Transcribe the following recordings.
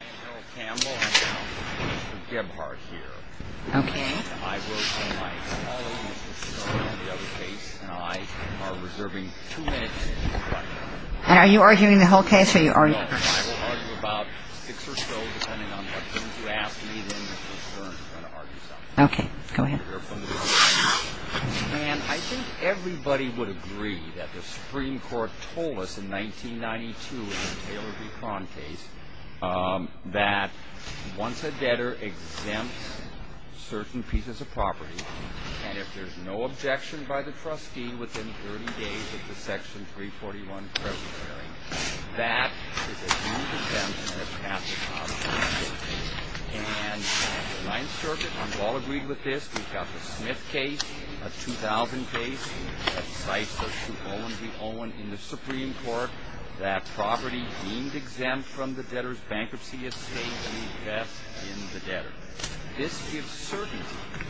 I am Harold Campbell and Mr. Gebhardt here. I work on my follow-up with Mr. Gaughan on the other case and I am reserving two minutes to reply. And are you arguing the whole case? No, I will argue about six or so, depending on what things you ask me, then we can start to argue something. Okay, go ahead. And I think everybody would agree that the Supreme Court told us in 1992 in the Taylor v. Contes that once a debtor exempts certain pieces of property, and if there is no objection by the trustee within 30 days of the Section 341 present hearing, that is a huge exemption on behalf of Congress. And in the Ninth Circuit, we've all agreed with this. We've got the Smith case, a 2000 case, that cites a suit Owen v. Owen in the Supreme Court that property deemed exempt from the debtor's bankruptcy estate will be vested in the debtor. This gives certainty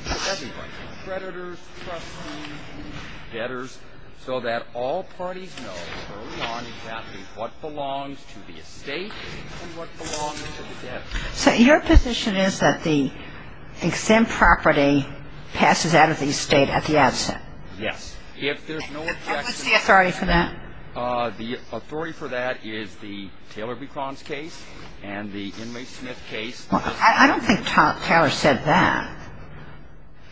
to everybody, creditors, trustees, debtors, so that all parties know early on exactly what belongs to the estate and what belongs to the debtor. So your position is that the exempt property passes out of the estate at the outset? Yes, if there's no objection. And what's the authority for that? The authority for that is the Taylor v. Contes case and the Inmate Smith case. Well, I don't think Taylor said that.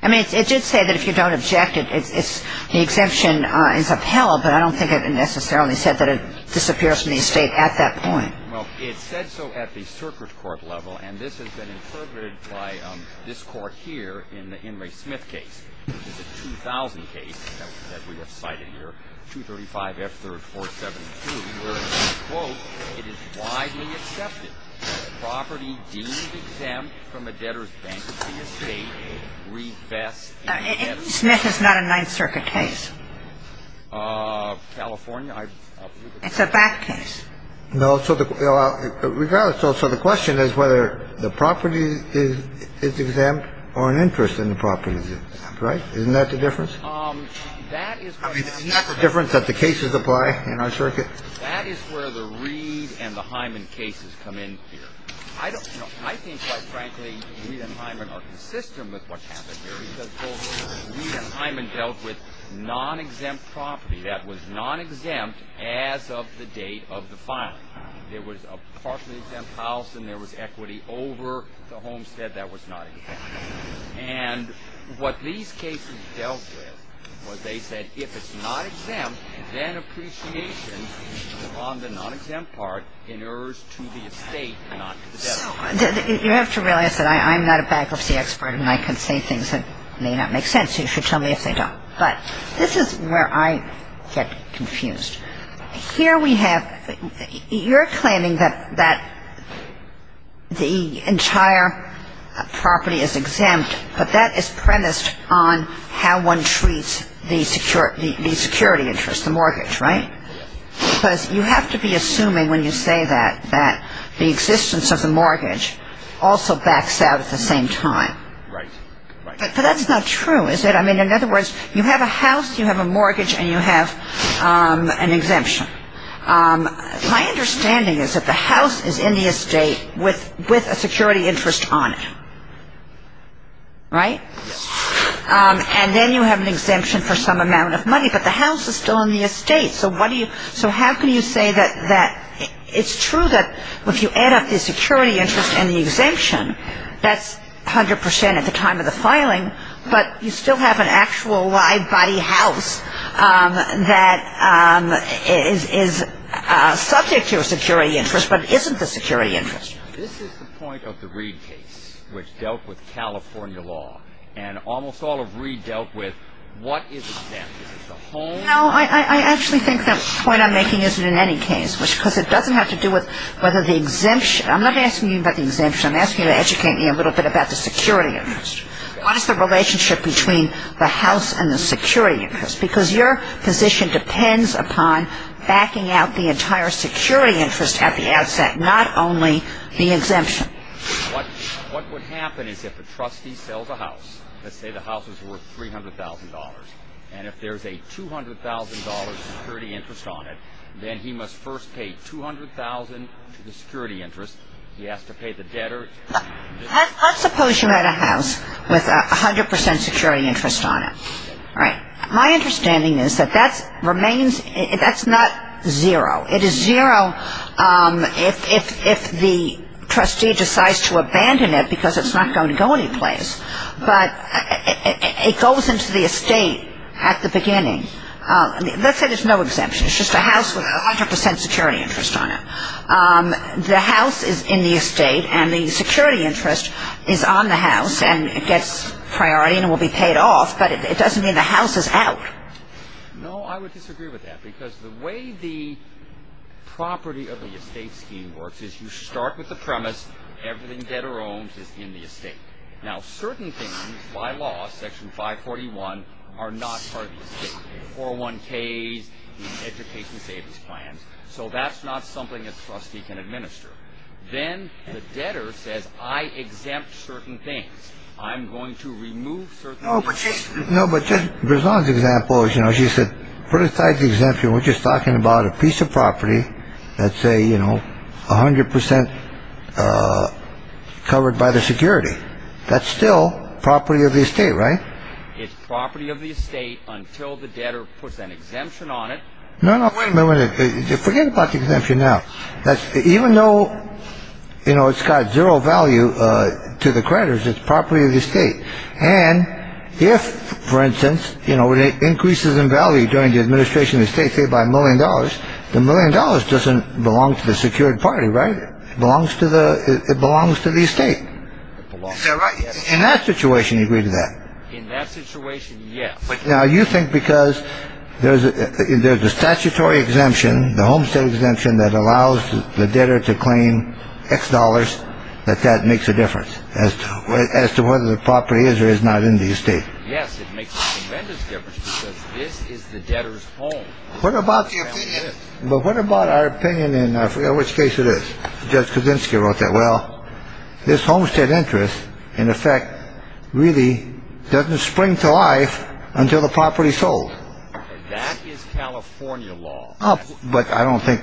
I mean, it did say that if you don't object, the exemption is upheld, but I don't think it necessarily said that it disappears from the estate at that point. Well, it said so at the circuit court level, and this has been interpreted by this Court here in the Inmate Smith case, which is a 2000 case, as we have cited here, 235 F. 3rd 472, where it says, quote, it is widely accepted that property deemed exempt from a debtor's bankruptcy estate will be vested in the debtor's bankruptcy estate. Smith is not a Ninth Circuit case. California, I believe it is. It's a back case. No. So the question is whether the property is exempt or an interest in the property is exempt. Right? Isn't that the difference? I mean, isn't that the difference that the cases apply in our circuit? That is where the Reed and the Hyman cases come in here. I don't know. I think, quite frankly, Reed and Hyman are consistent with what's happened here, because both Reed and Hyman dealt with non-exempt property that was non-exempt as of the date of the filing. There was a partially exempt house and there was equity over the homestead that was not exempt. And what these cases dealt with was they said if it's not exempt, then appreciation on the non-exempt part inheres to the estate and not to the debtor. So you have to realize that I'm not a bankruptcy expert and I can say things that may not make sense, so you should tell me if they don't. But this is where I get confused. Here we have you're claiming that the entire property is exempt, but that is premised on how one treats the security interest, the mortgage, right? Because you have to be assuming, when you say that, that the existence of the mortgage also backs out at the same time. Right. But that's not true, is it? I mean, in other words, you have a house, you have a mortgage, and you have an exemption. My understanding is that the house is in the estate with a security interest on it, right? Yes. And then you have an exemption for some amount of money, but the house is still in the estate, so how can you say that it's true that if you add up the security interest and the exemption, that's 100 percent at the time of the filing, but you still have an actual live body house that is subject to a security interest but isn't the security interest. This is the point of the Reed case, which dealt with California law, and almost all of Reed dealt with what is exempt? Is it the home? No, I actually think that the point I'm making isn't in any case, because it doesn't have to do with whether the exemption. I'm not asking you about the exemption. I'm asking you to educate me a little bit about the security interest. What is the relationship between the house and the security interest? Because your position depends upon backing out the entire security interest at the outset, not only the exemption. What would happen is if a trustee sells a house, let's say the house is worth $300,000, and if there's a $200,000 security interest on it, then he must first pay $200,000 to the security interest. He has to pay the debtor. Let's suppose you had a house with 100 percent security interest on it. All right. My understanding is that that's not zero. It is zero if the trustee decides to abandon it because it's not going to go anyplace. But it goes into the estate at the beginning. Let's say there's no exemption. It's just a house with 100 percent security interest on it. The house is in the estate, and the security interest is on the house, and it gets priority and will be paid off. But it doesn't mean the house is out. No, I would disagree with that, because the way the property of the estate scheme works is you start with the premise, everything debtor-owned is in the estate. Now, certain things by law, Section 541, are not part of the estate. 401Ks, the education savings plans. So that's not something a trustee can administer. Then the debtor says, I exempt certain things. I'm going to remove certain things. No, but Judge Breslau's example is, you know, she said, put aside the exemption. We're just talking about a piece of property that's, say, you know, 100 percent covered by the security. That's still property of the estate, right? It's property of the estate until the debtor puts an exemption on it. No, no, wait a minute. Forget about the exemption now. Even though, you know, it's got zero value to the creditors, it's property of the estate. And if, for instance, you know, when it increases in value during the administration of the estate, say, by a million dollars, the million dollars doesn't belong to the secured party, right? It belongs to the estate. Is that right? In that situation, you agree to that? In that situation, yes. Now, you think because there's a statutory exemption, the homestead exemption that allows the debtor to claim X dollars, that that makes a difference as to whether the property is or is not in the estate? Yes, it makes a tremendous difference because this is the debtor's home. But what about our opinion in which case it is? Judge Kuczynski wrote that. Well, this homestead interest, in effect, really doesn't spring to life until the property's sold. That is California law. But I don't think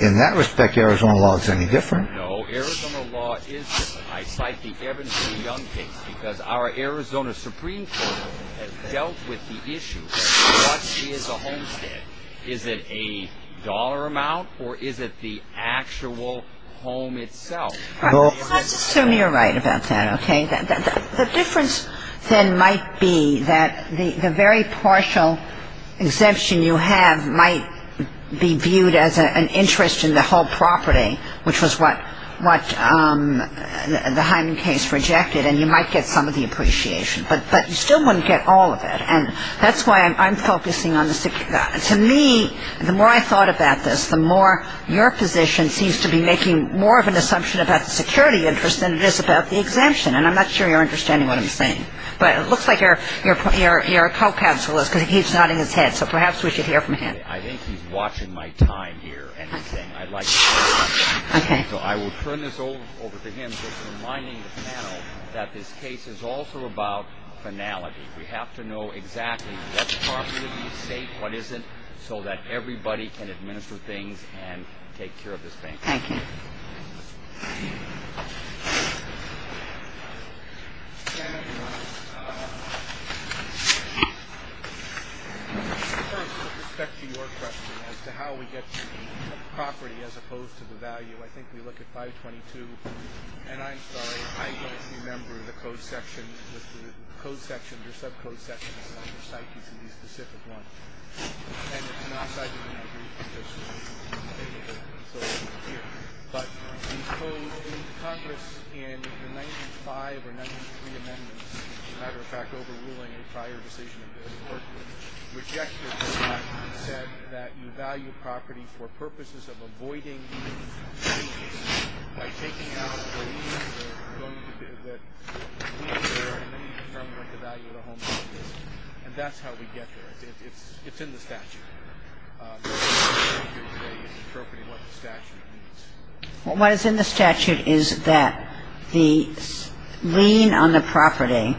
in that respect Arizona law is any different. No, Arizona law is different. I cite the Evans v. Young case because our Arizona Supreme Court has dealt with the issue of what is a homestead. Is it a dollar amount or is it the actual home itself? Let's assume you're right about that, okay? The difference then might be that the very partial exemption you have might be viewed as an interest in the whole property, which was what the Hyman case rejected, and you might get some of the appreciation. But you still wouldn't get all of it. And that's why I'm focusing on the security. To me, the more I thought about this, the more your position seems to be making more of an assumption about the security interest than it is about the exemption. And I'm not sure you're understanding what I'm saying. But it looks like your co-counsel is because he's nodding his head, so perhaps we should hear from him. I think he's watching my time here. So I will turn this over to him, just reminding the panel that this case is also about finality. We have to know exactly what's properly safe, what isn't, so that everybody can administer things and take care of this thing. Thank you. First, with respect to your question as to how we get the property as opposed to the value, I think we look at 522. And I'm sorry, I don't remember the code section. The code section, the sub-code section is on the site. You can see the specific one. And it's not cited in my brief. But the code in Congress in the 1905 or 1903 amendments, as a matter of fact, overruling a prior decision of the work group, rejected the fact that you said that you value property for purposes of avoiding these changes by taking out the reason that we need to determine what the value of the home is. And that's how we get there. It's in the statute. What is in the statute is that the lien on the property,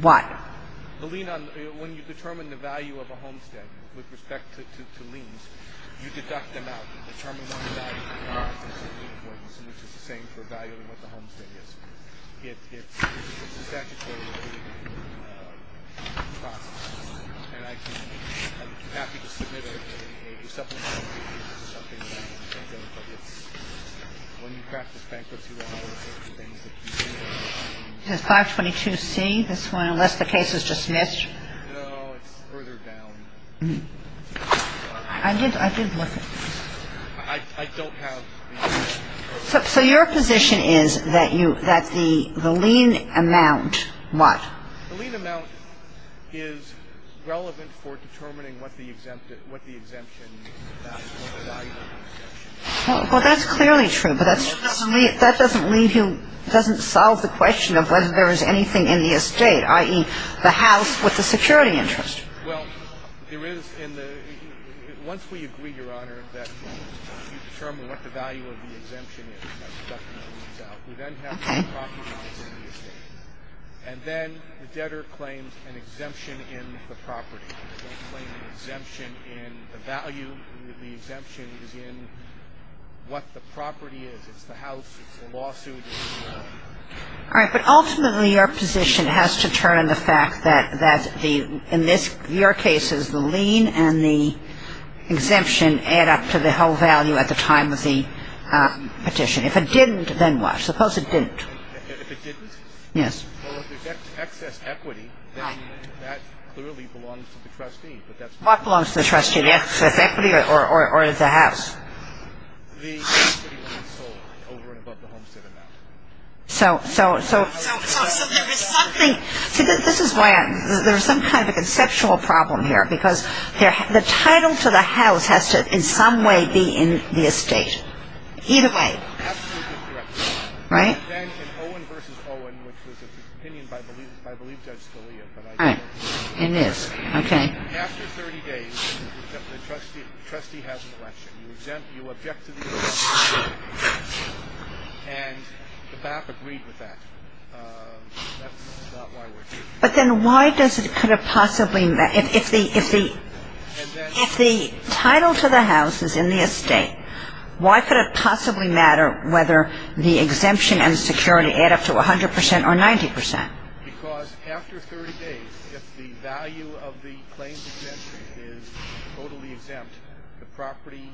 what? The lien on, when you determine the value of a homestead with respect to liens, you deduct them out and determine what the value is, which is the same for valuing what the homestead is. It's a statutory process. And I'm happy to submit a supplement to you as to something about it. But it's, when you practice bankruptcy law, it's the things that you do. It says 522C, this one, unless the case is dismissed. No, it's further down. I did look at it. I don't have the exact number. So your position is that the lien amount, what? The lien amount is relevant for determining what the exemption is, what the value of the exemption is. Well, that's clearly true. But that doesn't lead you, doesn't solve the question of whether there is anything in the estate, i.e. the house with the security interest. Well, there is in the, once we agree, Your Honor, that you determine what the value of the exemption is, by deducting the liens out, we then have the property rights in the estate. And then the debtor claims an exemption in the property. They claim an exemption in the value. The exemption is in what the property is. It's the house. It's the lawsuit. All right. But ultimately, your position has to turn on the fact that the, in your cases, the lien and the exemption add up to the whole value at the time of the petition. If it didn't, then what? Suppose it didn't. If it didn't? Yes. Well, if there's excess equity, then that clearly belongs to the trustee. What belongs to the trustee? The excess equity or the house? The equity being sold over and above the homestead amount. So there is something. See, this is why there's some kind of a conceptual problem here, because the title to the house has to in some way be in the estate. Either way. Absolutely correct. Right? And then in Owen v. Owen, which was an opinion by, I believe, Judge Scalia, but I don't remember. It is. Okay. After 30 days, the trustee has an election. You exempt, you object to the election. And the BAP agreed with that. That's not why we're here. But then why does it, could it possibly, if the title to the house is in the estate, why could it possibly matter whether the exemption and security add up to 100% or 90%? Because after 30 days, if the value of the claims exemption is totally exempt, the property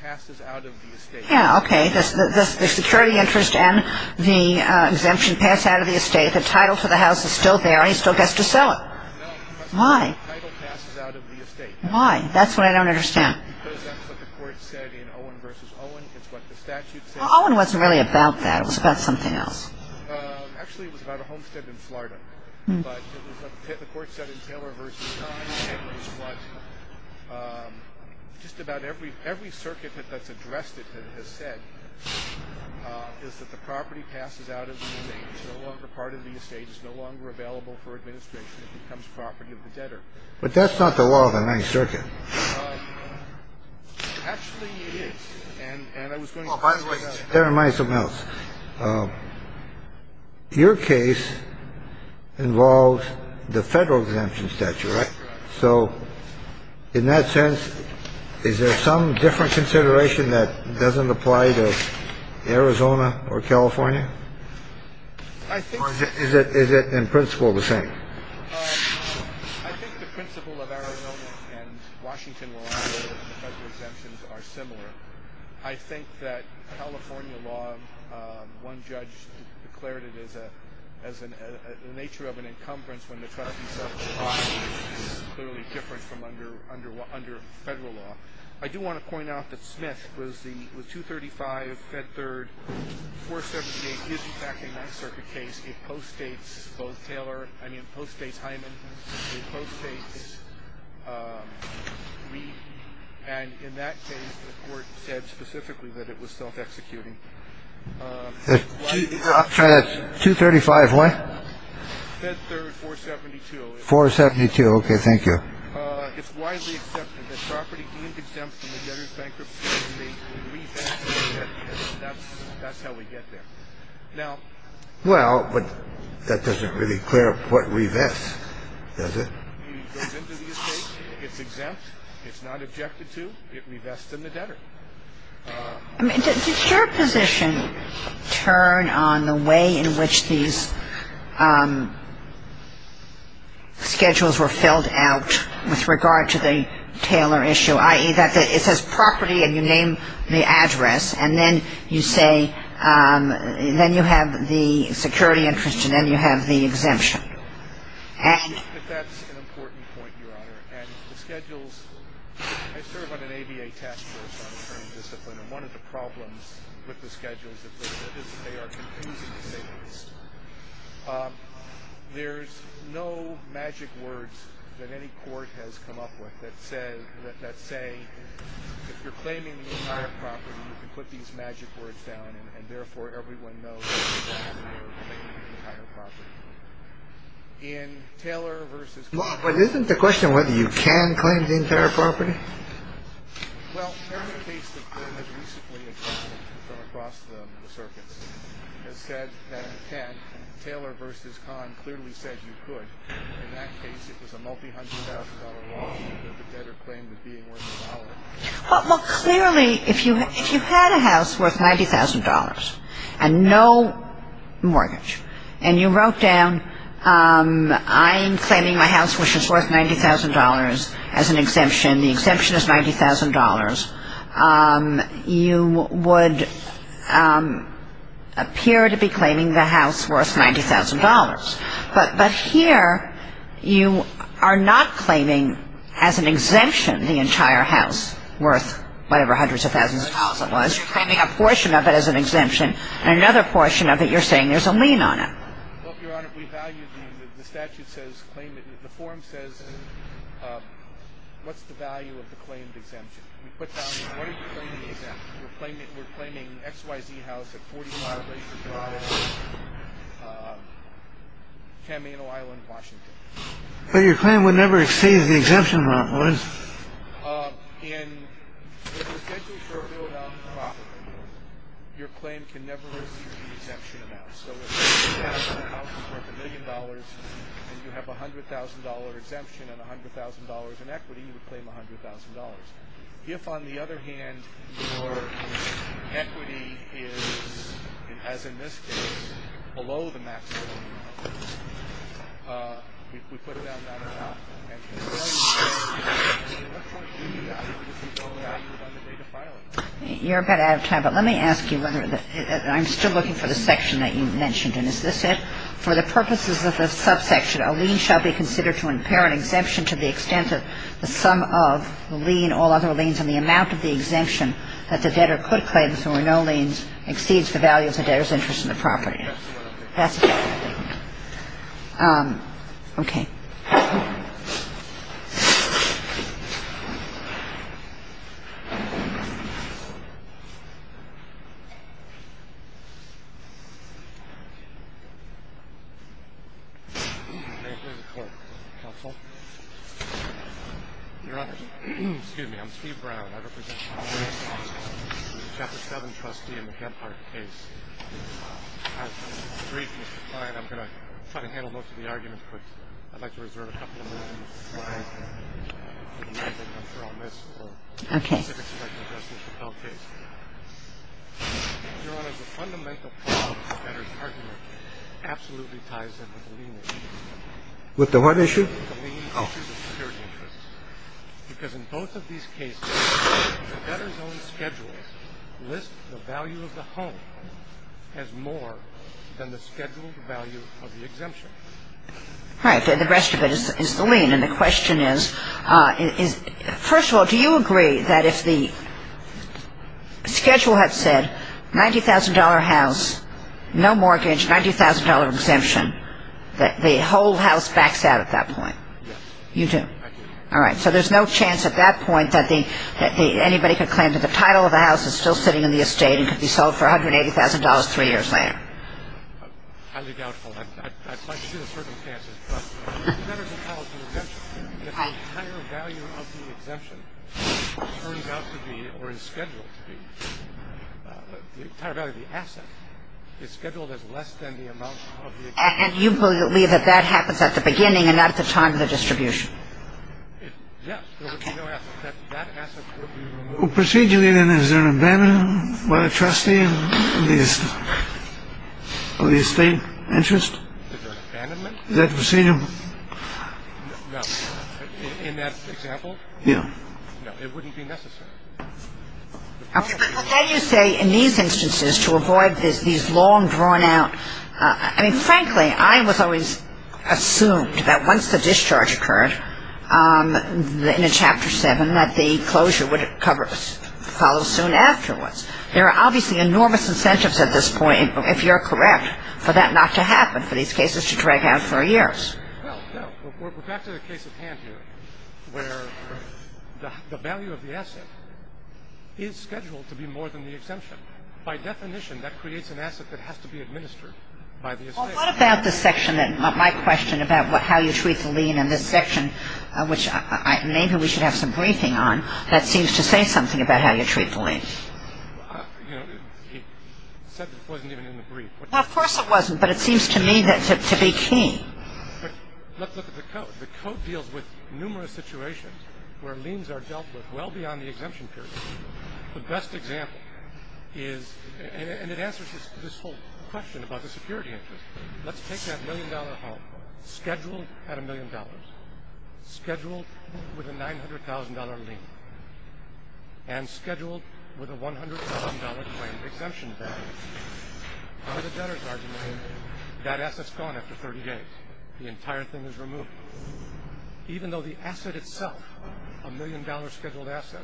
passes out of the estate. Yeah, okay. The security interest and the exemption pass out of the estate. The title to the house is still there, and he still has to sell it. No. Why? The title passes out of the estate. Why? That's what I don't understand. Because that's what the court said in Owen v. Owen. It's what the statute said. Well, Owen wasn't really about that. It was about something else. Actually, it was about a homestead in Florida. But the court said in Taylor v. Don, just about every circuit that's addressed it has said is that the property passes out of the estate. It's no longer part of the estate. It's no longer available for administration. It becomes property of the debtor. But that's not the law of the ninth circuit. Actually, it is. And I was going to say that. By the way, let me remind you of something else. Your case involves the Federal exemption statute, right? So in that sense, is there some different consideration that doesn't apply to Arizona or California? I think. Or is it in principle the same? I think the principle of Arizona and Washington, where the federal exemptions are similar. I think that California law, one judge declared it as the nature of an encumbrance when the trustee says the property is clearly different from under federal law. I do want to point out that Smith with 235, Fed Third, 478 is, in fact, a ninth circuit case. It postdates both Taylor. I mean, postdates Hyman. And in that case, the court said specifically that it was self-executing. That's 235. What? Fed Third, 472. 472. OK, thank you. It's widely accepted that property deemed exempt from the debtor's bankruptcy. That's how we get there. Now, well, but that doesn't really clear up what revests, does it? It goes into the estate, it's exempt, it's not objected to, it revests in the debtor. I mean, does your position turn on the way in which these schedules were filled out with regard to the Taylor issue, i.e., that it says property and you name the address, and then you say, then you have the security interest and then you have the exemption? That's an important point, Your Honor. And the schedules, I serve on an ABA task force on attorney discipline, and one of the problems with the schedules is that they are confusing signals. There's no magic words that any court has come up with that said that, let's say, if you're claiming the entire property, you can put these magic words down. And therefore, everyone knows in Taylor versus. But isn't the question whether you can claim the entire property? Well, every case that has recently occurred from across the circuits has said that you can. Taylor versus Conn clearly said you could. In that case, it was a multi-hundred thousand dollar lawsuit that the debtor claimed as being worth a dollar. Well, clearly, if you had a house worth $90,000 and no mortgage, and you wrote down, I'm claiming my house, which is worth $90,000 as an exemption, the exemption is $90,000, you would appear to be claiming the house worth $90,000. But here, you are not claiming as an exemption the entire house worth whatever hundreds of thousands of dollars it was. You're claiming a portion of it as an exemption, and another portion of it you're saying there's a lien on it. Well, Your Honor, we value the statute says claim it. The form says what's the value of the claimed exemption? We're claiming X, Y, Z house at 45. Camino Island, Washington. But your claim would never exceed the exemption. In the potential for a build-out property, your claim can never exceed the exemption amount. So if you have a house worth a million dollars and you have $100,000 exemption and $100,000 in equity, you would claim $100,000. If, on the other hand, your equity is, as in this case, below the maximum amount, we put it down to $100,000. And the value of that, what's the value of that? You're a bit out of time, but let me ask you whether the – I'm still looking for the section that you mentioned. And is this it? For the purposes of the subsection, a lien shall be considered to impair an exemption to the extent that the sum of the lien, all other liens, and the amount of the exemption that the debtor could claim, so no lien exceeds the value of the debtor's interest in the property. That's what I'm thinking. That's what I'm thinking. Okay. Thank you. May it please the Court. Counsel. Your Honor, excuse me. I'm Steve Brown. I represent the Chapter 7 trustee in the Hempart case. I have some briefness to provide. I'm going to try to handle most of the arguments, but I'd like to reserve a couple of minutes. I'm sure I'll miss specific suggestions about cases. Okay. Your Honor, the fundamental problem with the debtor's argument absolutely ties in with the lien issue. With the what issue? Oh. Because in both of these cases, the debtor's own schedules list the value of the home as more than the scheduled value of the exemption. Right. The rest of it is the lien. And the question is, first of all, do you agree that if the schedule had said $90,000 house, no mortgage, $90,000 exemption, that the whole house backs out at that point? Yes. You do? I do. All right. So there's no chance at that point that anybody could claim that the title of the house is still sitting in the estate and could be sold for $180,000 three years later? Highly doubtful. I'd like to see the circumstances. But the debtor's entitled to an exemption if the entire value of the exemption turns out to be or is scheduled to be, the entire value of the asset is scheduled as less than the amount of the exemption. And you believe that that happens at the beginning and not at the time of the distribution? Yes. Okay. There would be no asset. That asset would be removed. Procedurally, then, is there an abandonment by the trustee of the estate interest? Is there an abandonment? Is that procedural? No. In that example? Yeah. No, it wouldn't be necessary. Well, then you say in these instances to avoid these long, drawn-out ñ I mean, frankly, I was always assumed that once the discharge occurred in Chapter 7 that the closure would follow soon afterwards. There are obviously enormous incentives at this point, if you're correct, for that not to happen, for these cases to drag out for years. Well, no. We're back to the case at hand here where the value of the asset is scheduled to be more than the exemption. By definition, that creates an asset that has to be administered by the estate. Well, what about the section that my question about how you treat the lien in this section, which maybe we should have some briefing on, that seems to say something about how you treat the lien? You know, he said it wasn't even in the brief. Well, of course it wasn't, but it seems to me to be key. Let's look at the code. The code deals with numerous situations where liens are dealt with well beyond the exemption period. The best example is ñ and it answers this whole question about the security interest. Let's take that million-dollar home, scheduled at a million dollars, scheduled with a $900,000 lien, and scheduled with a $100,000 claim exemption value. By the debtor's argument, that asset's gone after 30 days. The entire thing is removed. Even though the asset itself, a million-dollar scheduled asset,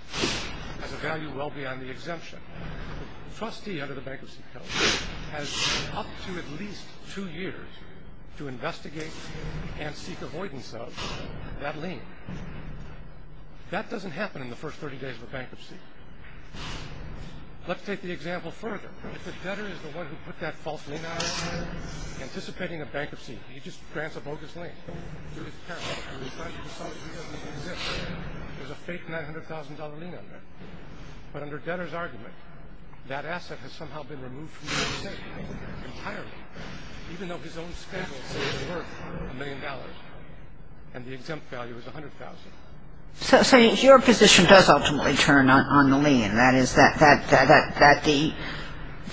has a value well beyond the exemption, the trustee under the bankruptcy code has up to at least two years to investigate and seek avoidance of that lien. That doesn't happen in the first 30 days of a bankruptcy. Let's take the example further. If the debtor is the one who put that false lien out there, anticipating a bankruptcy, he just grants a bogus lien. So he's careful. If he decides he doesn't need the exemption, there's a fake $900,000 lien under it. But under debtor's argument, that asset has somehow been removed from the estate entirely, even though his own schedule says it's worth a million dollars and the exempt value is $100,000. So your position does ultimately turn on the lien, that is that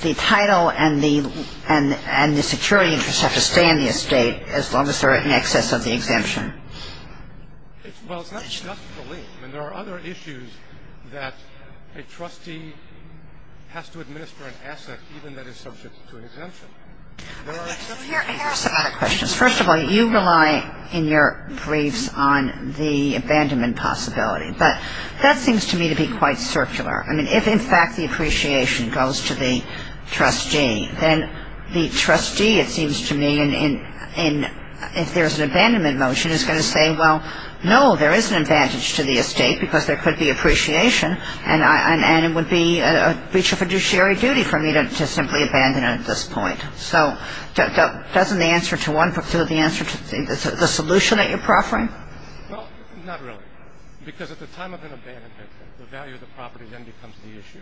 the title and the security interest have to stay in the estate as long as they're in excess of the exemption. Well, it's not just the lien. I mean, there are other issues that a trustee has to administer an asset even that is subject to an exemption. There are exceptions. Here are some other questions. First of all, you rely in your briefs on the abandonment possibility. But that seems to me to be quite circular. I mean, if, in fact, the appreciation goes to the trustee, then the trustee, it seems to me, if there's an abandonment motion is going to say, well, no, there is an advantage to the estate because there could be appreciation and it would be a breach of fiduciary duty for me to simply abandon it at this point. So doesn't the answer to the solution that you're proffering? Well, not really, because at the time of an abandonment, the value of the property then becomes the issue.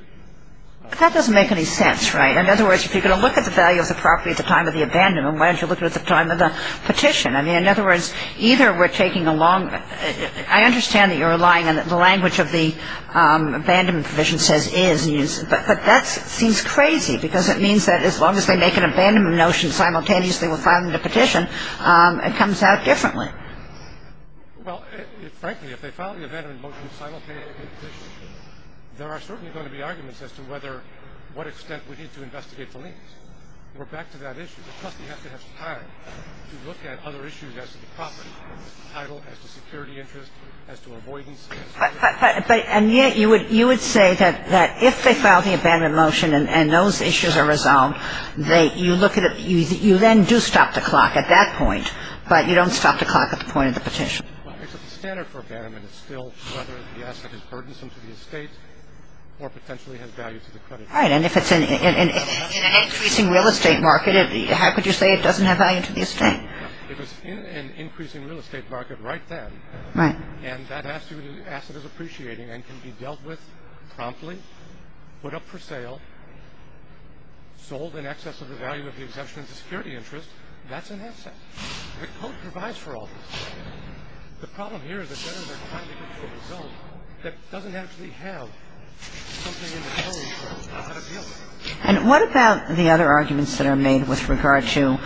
That doesn't make any sense, right? In other words, if you're going to look at the value of the property at the time of the abandonment, why don't you look at it at the time of the petition? I mean, in other words, either we're taking a long – I understand that you're relying on the language of the abandonment provision But that seems crazy because it means that as long as they make an abandonment motion simultaneously with filing the petition, it comes out differently. Well, frankly, if they file the abandonment motion simultaneously with the petition, there are certainly going to be arguments as to whether – what extent we need to investigate the liens. We're back to that issue. The trustee has to have time to look at other issues as to the property, as to title, as to security interest, as to avoidance. And yet you would say that if they file the abandonment motion and those issues are resolved, you then do stop the clock at that point, but you don't stop the clock at the point of the petition. Well, the standard for abandonment is still whether the asset is burdensome to the estate or potentially has value to the creditors. Right. And if it's in an increasing real estate market, how could you say it doesn't have value to the estate? It was in an increasing real estate market right then. Right. And that asset is appreciating and can be dealt with promptly, put up for sale, sold in excess of the value of the exemption of the security interest. That's an asset. The Code provides for all this. The problem here is the creditors are trying to control the zone. That doesn't actually have something in the code that appeals to them. And what about the other arguments that are made with regard to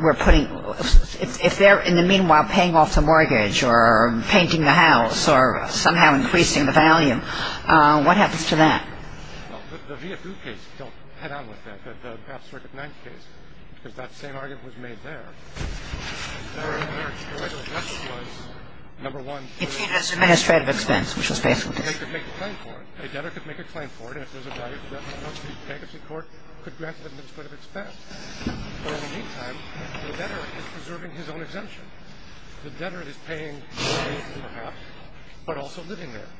we're putting – if they're, in the meanwhile, paying off the mortgage or painting the house or somehow increasing the value, what happens to that? Well, the VFU case, don't head on with that, the Half Circuit 9 case, because that same argument was made there. It's used as administrative expense, which was basically the case. A debtor could make a claim for it. A debtor could make a claim for it. And if there's a value, the bankruptcy court could grant administrative expense. But in the meantime, the debtor is preserving his own exemption. The debtor is paying for the house but also living there.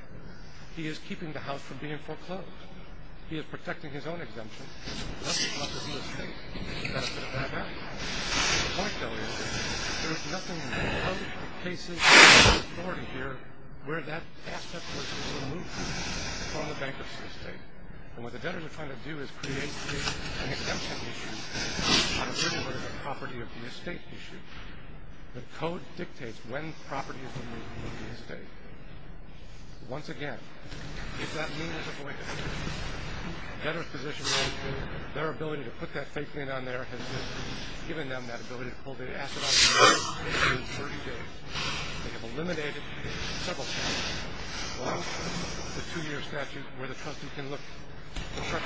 He is keeping the house from being foreclosed. He is protecting his own exemption. That's not the real estate. That's the bad house. The point, though, is there is nothing in the code, the cases, the authority here where that aspect was removed from the bankruptcy estate. And what the debtors are trying to do is create an exemption issue on a little bit of the property of the estate issue. The code dictates when property is removed from the estate. Once again, if that mean is avoided, the debtor's position, their ability to put that fake lien on there has given them that ability to pull the asset off the loan within 30 days. They have eliminated several cases. One, the two-year statute where the trustee can look at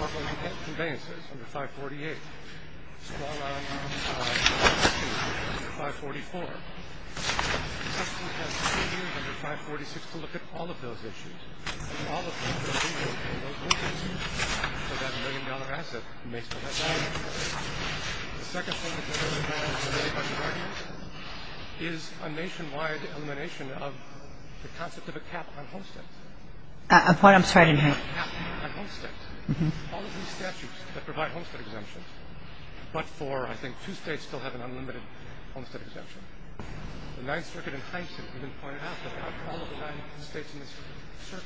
property conveyances under 548. A small amount of 542 under 544. The trustee has three years under 546 to look at all of those issues. And all of them will be removed from those loan cases so that million-dollar asset may still have value. The second one is a nationwide elimination of the concept of a cap on homesteads. A point I'm sorry to make. A cap on homesteads. All of these statutes that provide homestead exemptions, but for I think two states still have an unlimited homestead exemption. The Ninth Circuit in Hyneman pointed out that all of the nine states in this circuit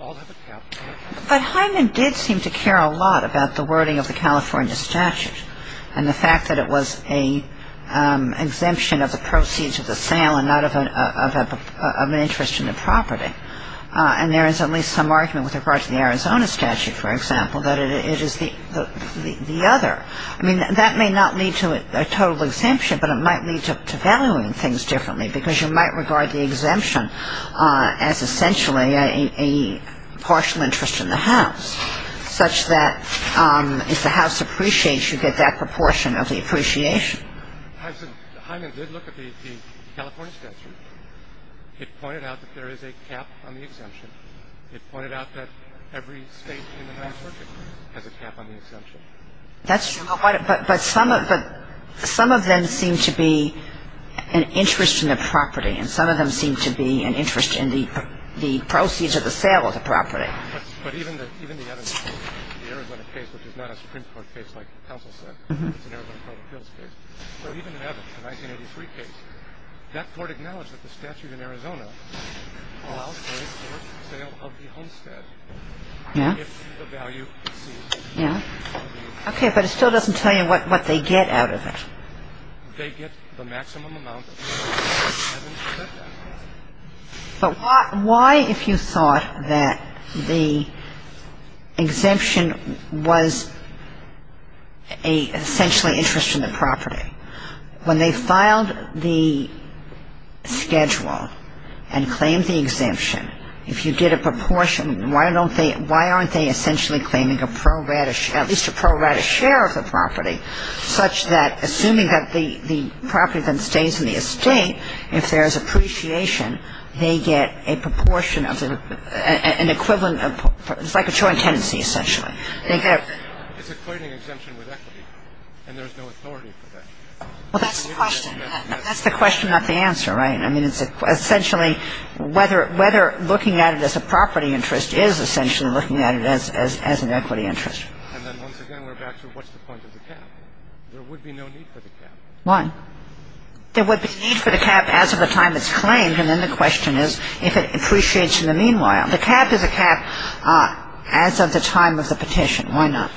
all have a cap. But Hyneman did seem to care a lot about the wording of the California statute and the fact that it was an exemption of the proceeds of the sale and not of an interest in the property. And there is at least some argument with regard to the Arizona statute, for example, that it is the other. I mean, that may not lead to a total exemption, but it might lead to valuing things differently because you might regard the exemption as essentially a partial interest in the house such that if the house appreciates, you get that proportion of the appreciation. Hyneman did look at the California statute. It pointed out that there is a cap on the exemption. It pointed out that every state in the Ninth Circuit has a cap on the exemption. But some of them seem to be an interest in the property and some of them seem to be an interest in the proceeds of the sale of the property. But even the other case, the Arizona case, which is not a Supreme Court case like the counsel said, it's an Arizona total bills case. But even in Evans, the 1983 case, that court acknowledged that the statute in Arizona allows for the sale of the homestead if the value exceeds. Yeah. Okay, but it still doesn't tell you what they get out of it. They get the maximum amount of the property. But why, if you thought that the exemption was essentially an interest in the property, when they filed the schedule and claimed the exemption, if you did a proportion, why aren't they essentially claiming at least a pro rata share of the property such that assuming that the property then stays in the estate, if there is appreciation, they get a proportion of an equivalent of the property. It's like a joint tenancy, essentially. It's a claiming exemption with equity, and there's no authority for that. Well, that's the question. That's the question, not the answer, right? I mean, it's essentially whether looking at it as a property interest is essentially looking at it as an equity interest. And then once again, we're back to what's the point of the cap? There would be no need for the cap. Why? There would be no need for the cap as of the time it's claimed, and then the question is if it appreciates in the meanwhile. The cap is a cap as of the time of the petition. Why not?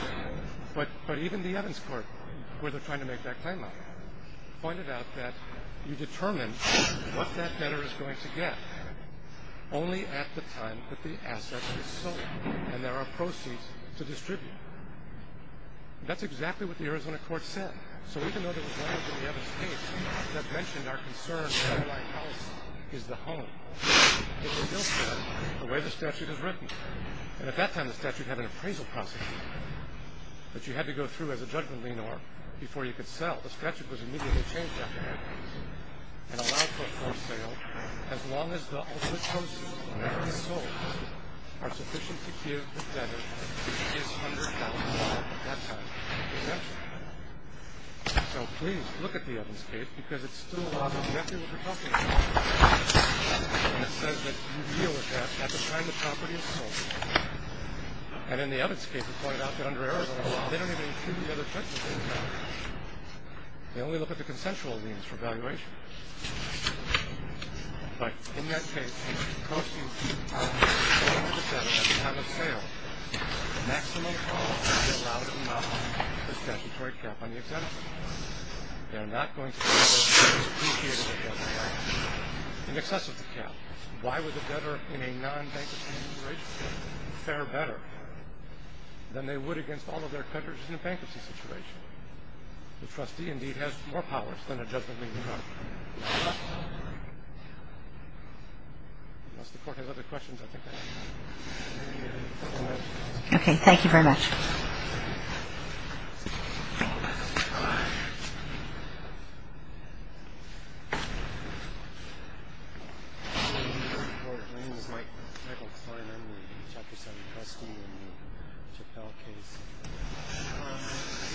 But even the Evans Court, where they're trying to make that claim on it, pointed out that you determine what that debtor is going to get only at the time that the asset is sold and there are proceeds to distribute. That's exactly what the Arizona court said. So even though there was language in the Evans case that mentioned our concern that the White House is the home, it was still said the way the statute is written. And at that time the statute had an appraisal process that you had to go through as a judgment leaner before you could sell. The statute was immediately changed after that and allowed for a forced sale as long as the ultimate proceeds that can be sold are sufficient to give the debtor his $100,000 at that time exemption. So please look at the Evans case because it still allows the nephew of the property owner and it says that you deal with that at the time the property is sold. And in the Evans case it pointed out that under Arizona law they don't even include the other judgments in the statute. They only look at the consensual leans for valuation. But in that case, costing $200,000 at the time of sale the maximum cost is $1,000,000 for the statutory cap on the exemption. They're not going to be able to depreciate it at that time in excess of the cap. Why would the debtor in a non-bankruptcy situation fare better than they would against all of their creditors in a bankruptcy situation? The trustee indeed has more powers than a judgment leading to bankruptcy. Unless the court has other questions, I think that's all. Okay, thank you very much.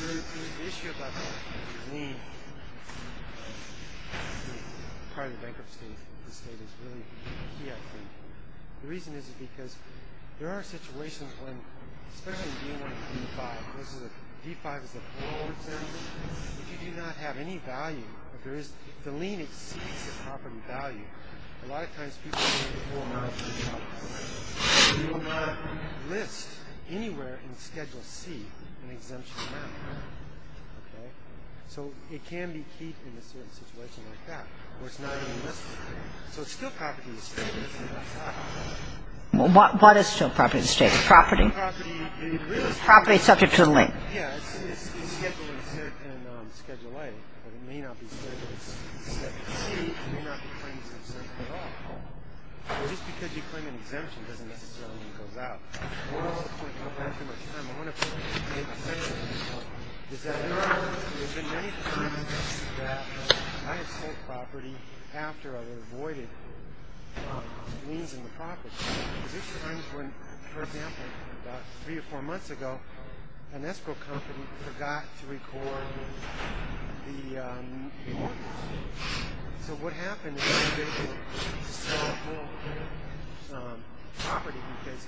The issue about the lien for the part of the bankrupt state is really key, I think. The reason is because there are situations when, especially in D1 and D5, D5 is a poor exemption. If you do not have any value, if the lien exceeds the property value, a lot of times people get a poor amount of the property value. You do not list anywhere in Schedule C an exemption amount. Okay? So it can be key in a situation like that where it's not even listed. So it's still property to the state. What is still property to the state? Property. Property subject to the lien. Yeah, it's Schedule A, but it may not be subject to Schedule C. It may not be claimed to be subject at all. Well, just because you claim an exemption doesn't necessarily mean it goes out. I don't want to go back too much time. I want to make the point that there have been many times that I have sold property after I had avoided liens in the property. This is a time when, for example, about three or four months ago, an escrow company forgot to record the mortgage. So what happened is they were able to sell the whole property because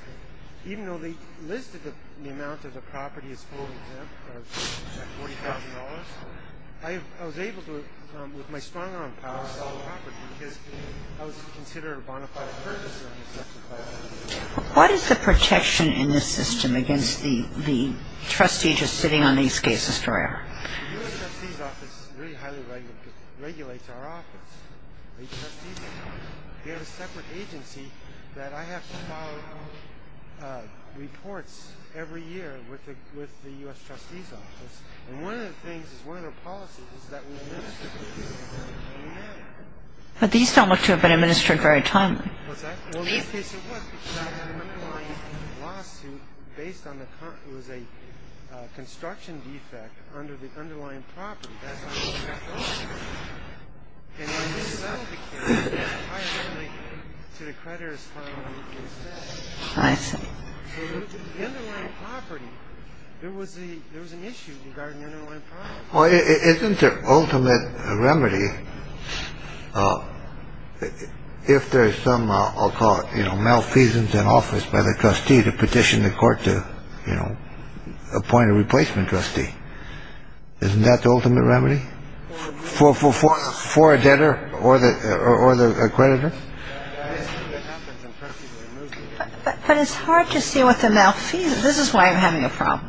even though they listed the amount of the property as full exempt of $40,000, I was able to, with my strong-arm power, sell the property because I was considered a bona fide purchaser on the second file. What is the protection in this system against the trustee just sitting on these cases forever? The U.S. Trustee's Office really highly regulates our office. We have a separate agency that I have to file reports every year with the U.S. Trustee's Office. And one of the things is one of the policies is that we administer the cases. But these don't look to have been administered very timely. Well, in this case it was because I had an underlying lawsuit based on the It was a construction defect under the underlying property. Isn't there ultimate remedy? If there's some, I'll call it, you know, malfeasance in office by the trustee to petition the court to, you know, appoint a replacement trustee, isn't that the ultimate remedy for a debtor or the creditor? But it's hard to see what the malfeasance is. This is why I'm having a problem.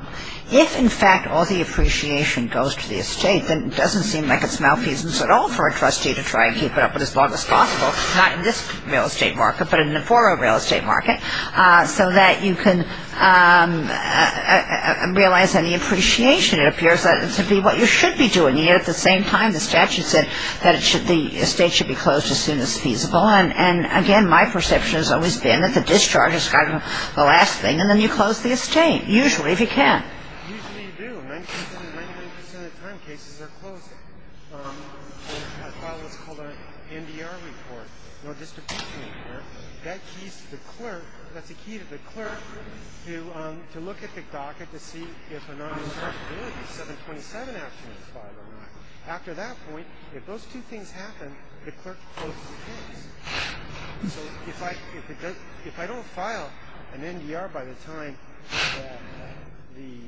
If, in fact, all the appreciation goes to the estate, then it doesn't seem like it's malfeasance at all for a trustee to try and keep it up as long as possible, not in this real estate market, but in a former real estate market, so that you can realize any appreciation. It appears to be what you should be doing. Yet at the same time, the statute said that the estate should be closed as soon as feasible. And, again, my perception has always been that the discharge is kind of the last thing, and then you close the estate, usually, if you can. Usually you do. Ninety percent of the time cases are closed. I filed what's called an NDR report, no distribution report. That keys to the clerk. That's a key to the clerk to look at the docket to see if a non-dischargeability 727 action is filed or not. After that point, if those two things happen, the clerk closes the case. So if I don't file an NDR by the time the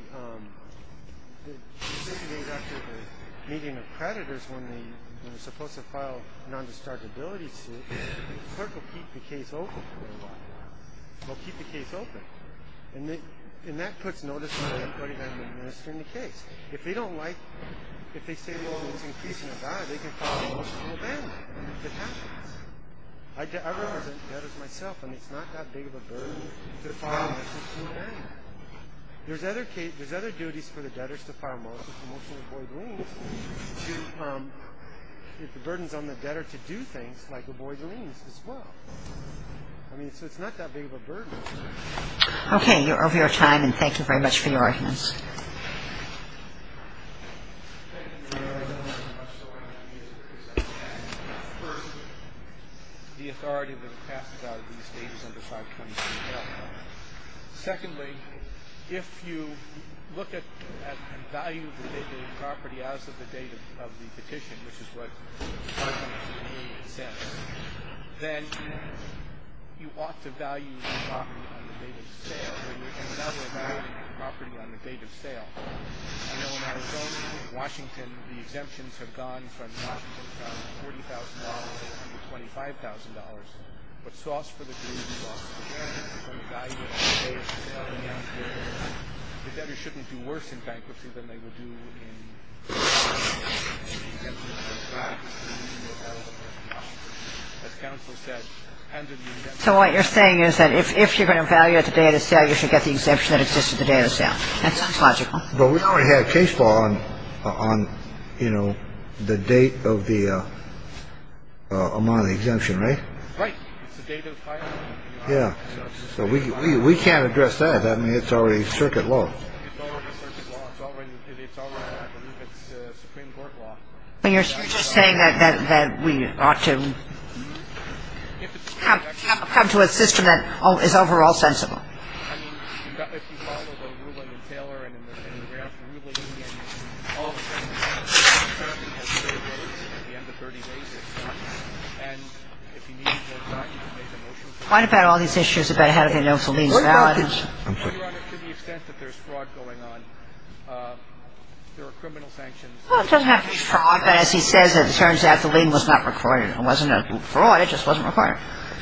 decision is made after the meeting of creditors, when they're supposed to file a non-dischargeability suit, the clerk will keep the case open for a while. They'll keep the case open. And that puts notice on everybody that's administering the case. If they don't like it, if they say, well, it's increasing the value, they can file a motion to abandon it if it happens. I represent debtors myself, and it's not that big of a burden to file a motion to abandon it. There's other duties for the debtors to file a motion to avoid liens if the burden's on the debtor to do things, like avoid liens as well. I mean, so it's not that big of a burden. Okay. You're over your time, and thank you very much for your arguments. Thank you, Your Honor. I'm not sure I can use it because I don't have the authority. The authority that passes out of these data is under 523L. Secondly, if you look at and value the property as of the date of the petition, which is what 523A says, then you ought to value the property on the date of the sale, but you can't value the property on the date of sale. I know in Arizona, Washington, the exemptions have gone from $40,000 to $25,000, but sauce for the dream, sauce for the game, is when you value it on the date of the sale. And the debtors shouldn't do worse in bankruptcy than they would do in bankruptcy. So you can't do worse in bankruptcy than you would do in bankruptcy. So what you're saying is that if you're going to value it the day of the sale, you should get the exemption that exists at the day of the sale. That sounds logical. But we already have case law on, you know, the date of the amount of the exemption, right? Right. Yeah. So we can't address that. I mean, it's already circuit law. It's already, I believe, it's Supreme Court law. But you're just saying that we ought to come to a system that is overall sensible. I mean, if you follow the ruling in Taylor and in the grant ruling, and all of a sudden you get a 30-day exemption at the end of 30 days. And if you need more time, you can make a motion for it. What about all these issues about how to get a notice of legal validity? To the extent that there's fraud going on, there are criminal sanctions. Well, it doesn't have to be fraud. But as he says, it turns out the lien was not recorded. It wasn't a fraud. It just wasn't recorded.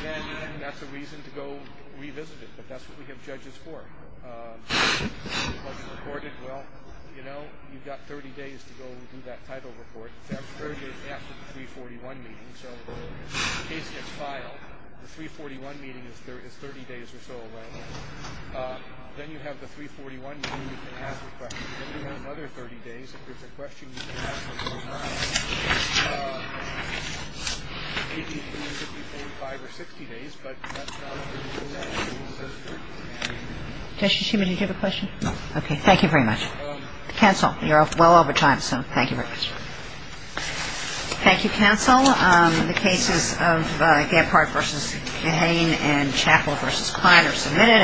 And that's a reason to go revisit it. But that's what we have judges for. If it wasn't recorded, well, you know, you've got 30 days to go do that title report. You have 30 days after the 341 meeting. And so in case it gets filed, the 341 meeting is 30 days or so away. Then you have the 341 meeting. You can ask a question. Then you have another 30 days. If there's a question, you can ask it right now. It can be between 55 or 60 days. But that's not what the rule says. It says 30 days. Justice Schuman, did you have a question? No. Okay. Counsel, you're well over time, so thank you very much. Thank you, counsel. The cases of Gephardt v. Mahane and Chappell v. Kline are submitted.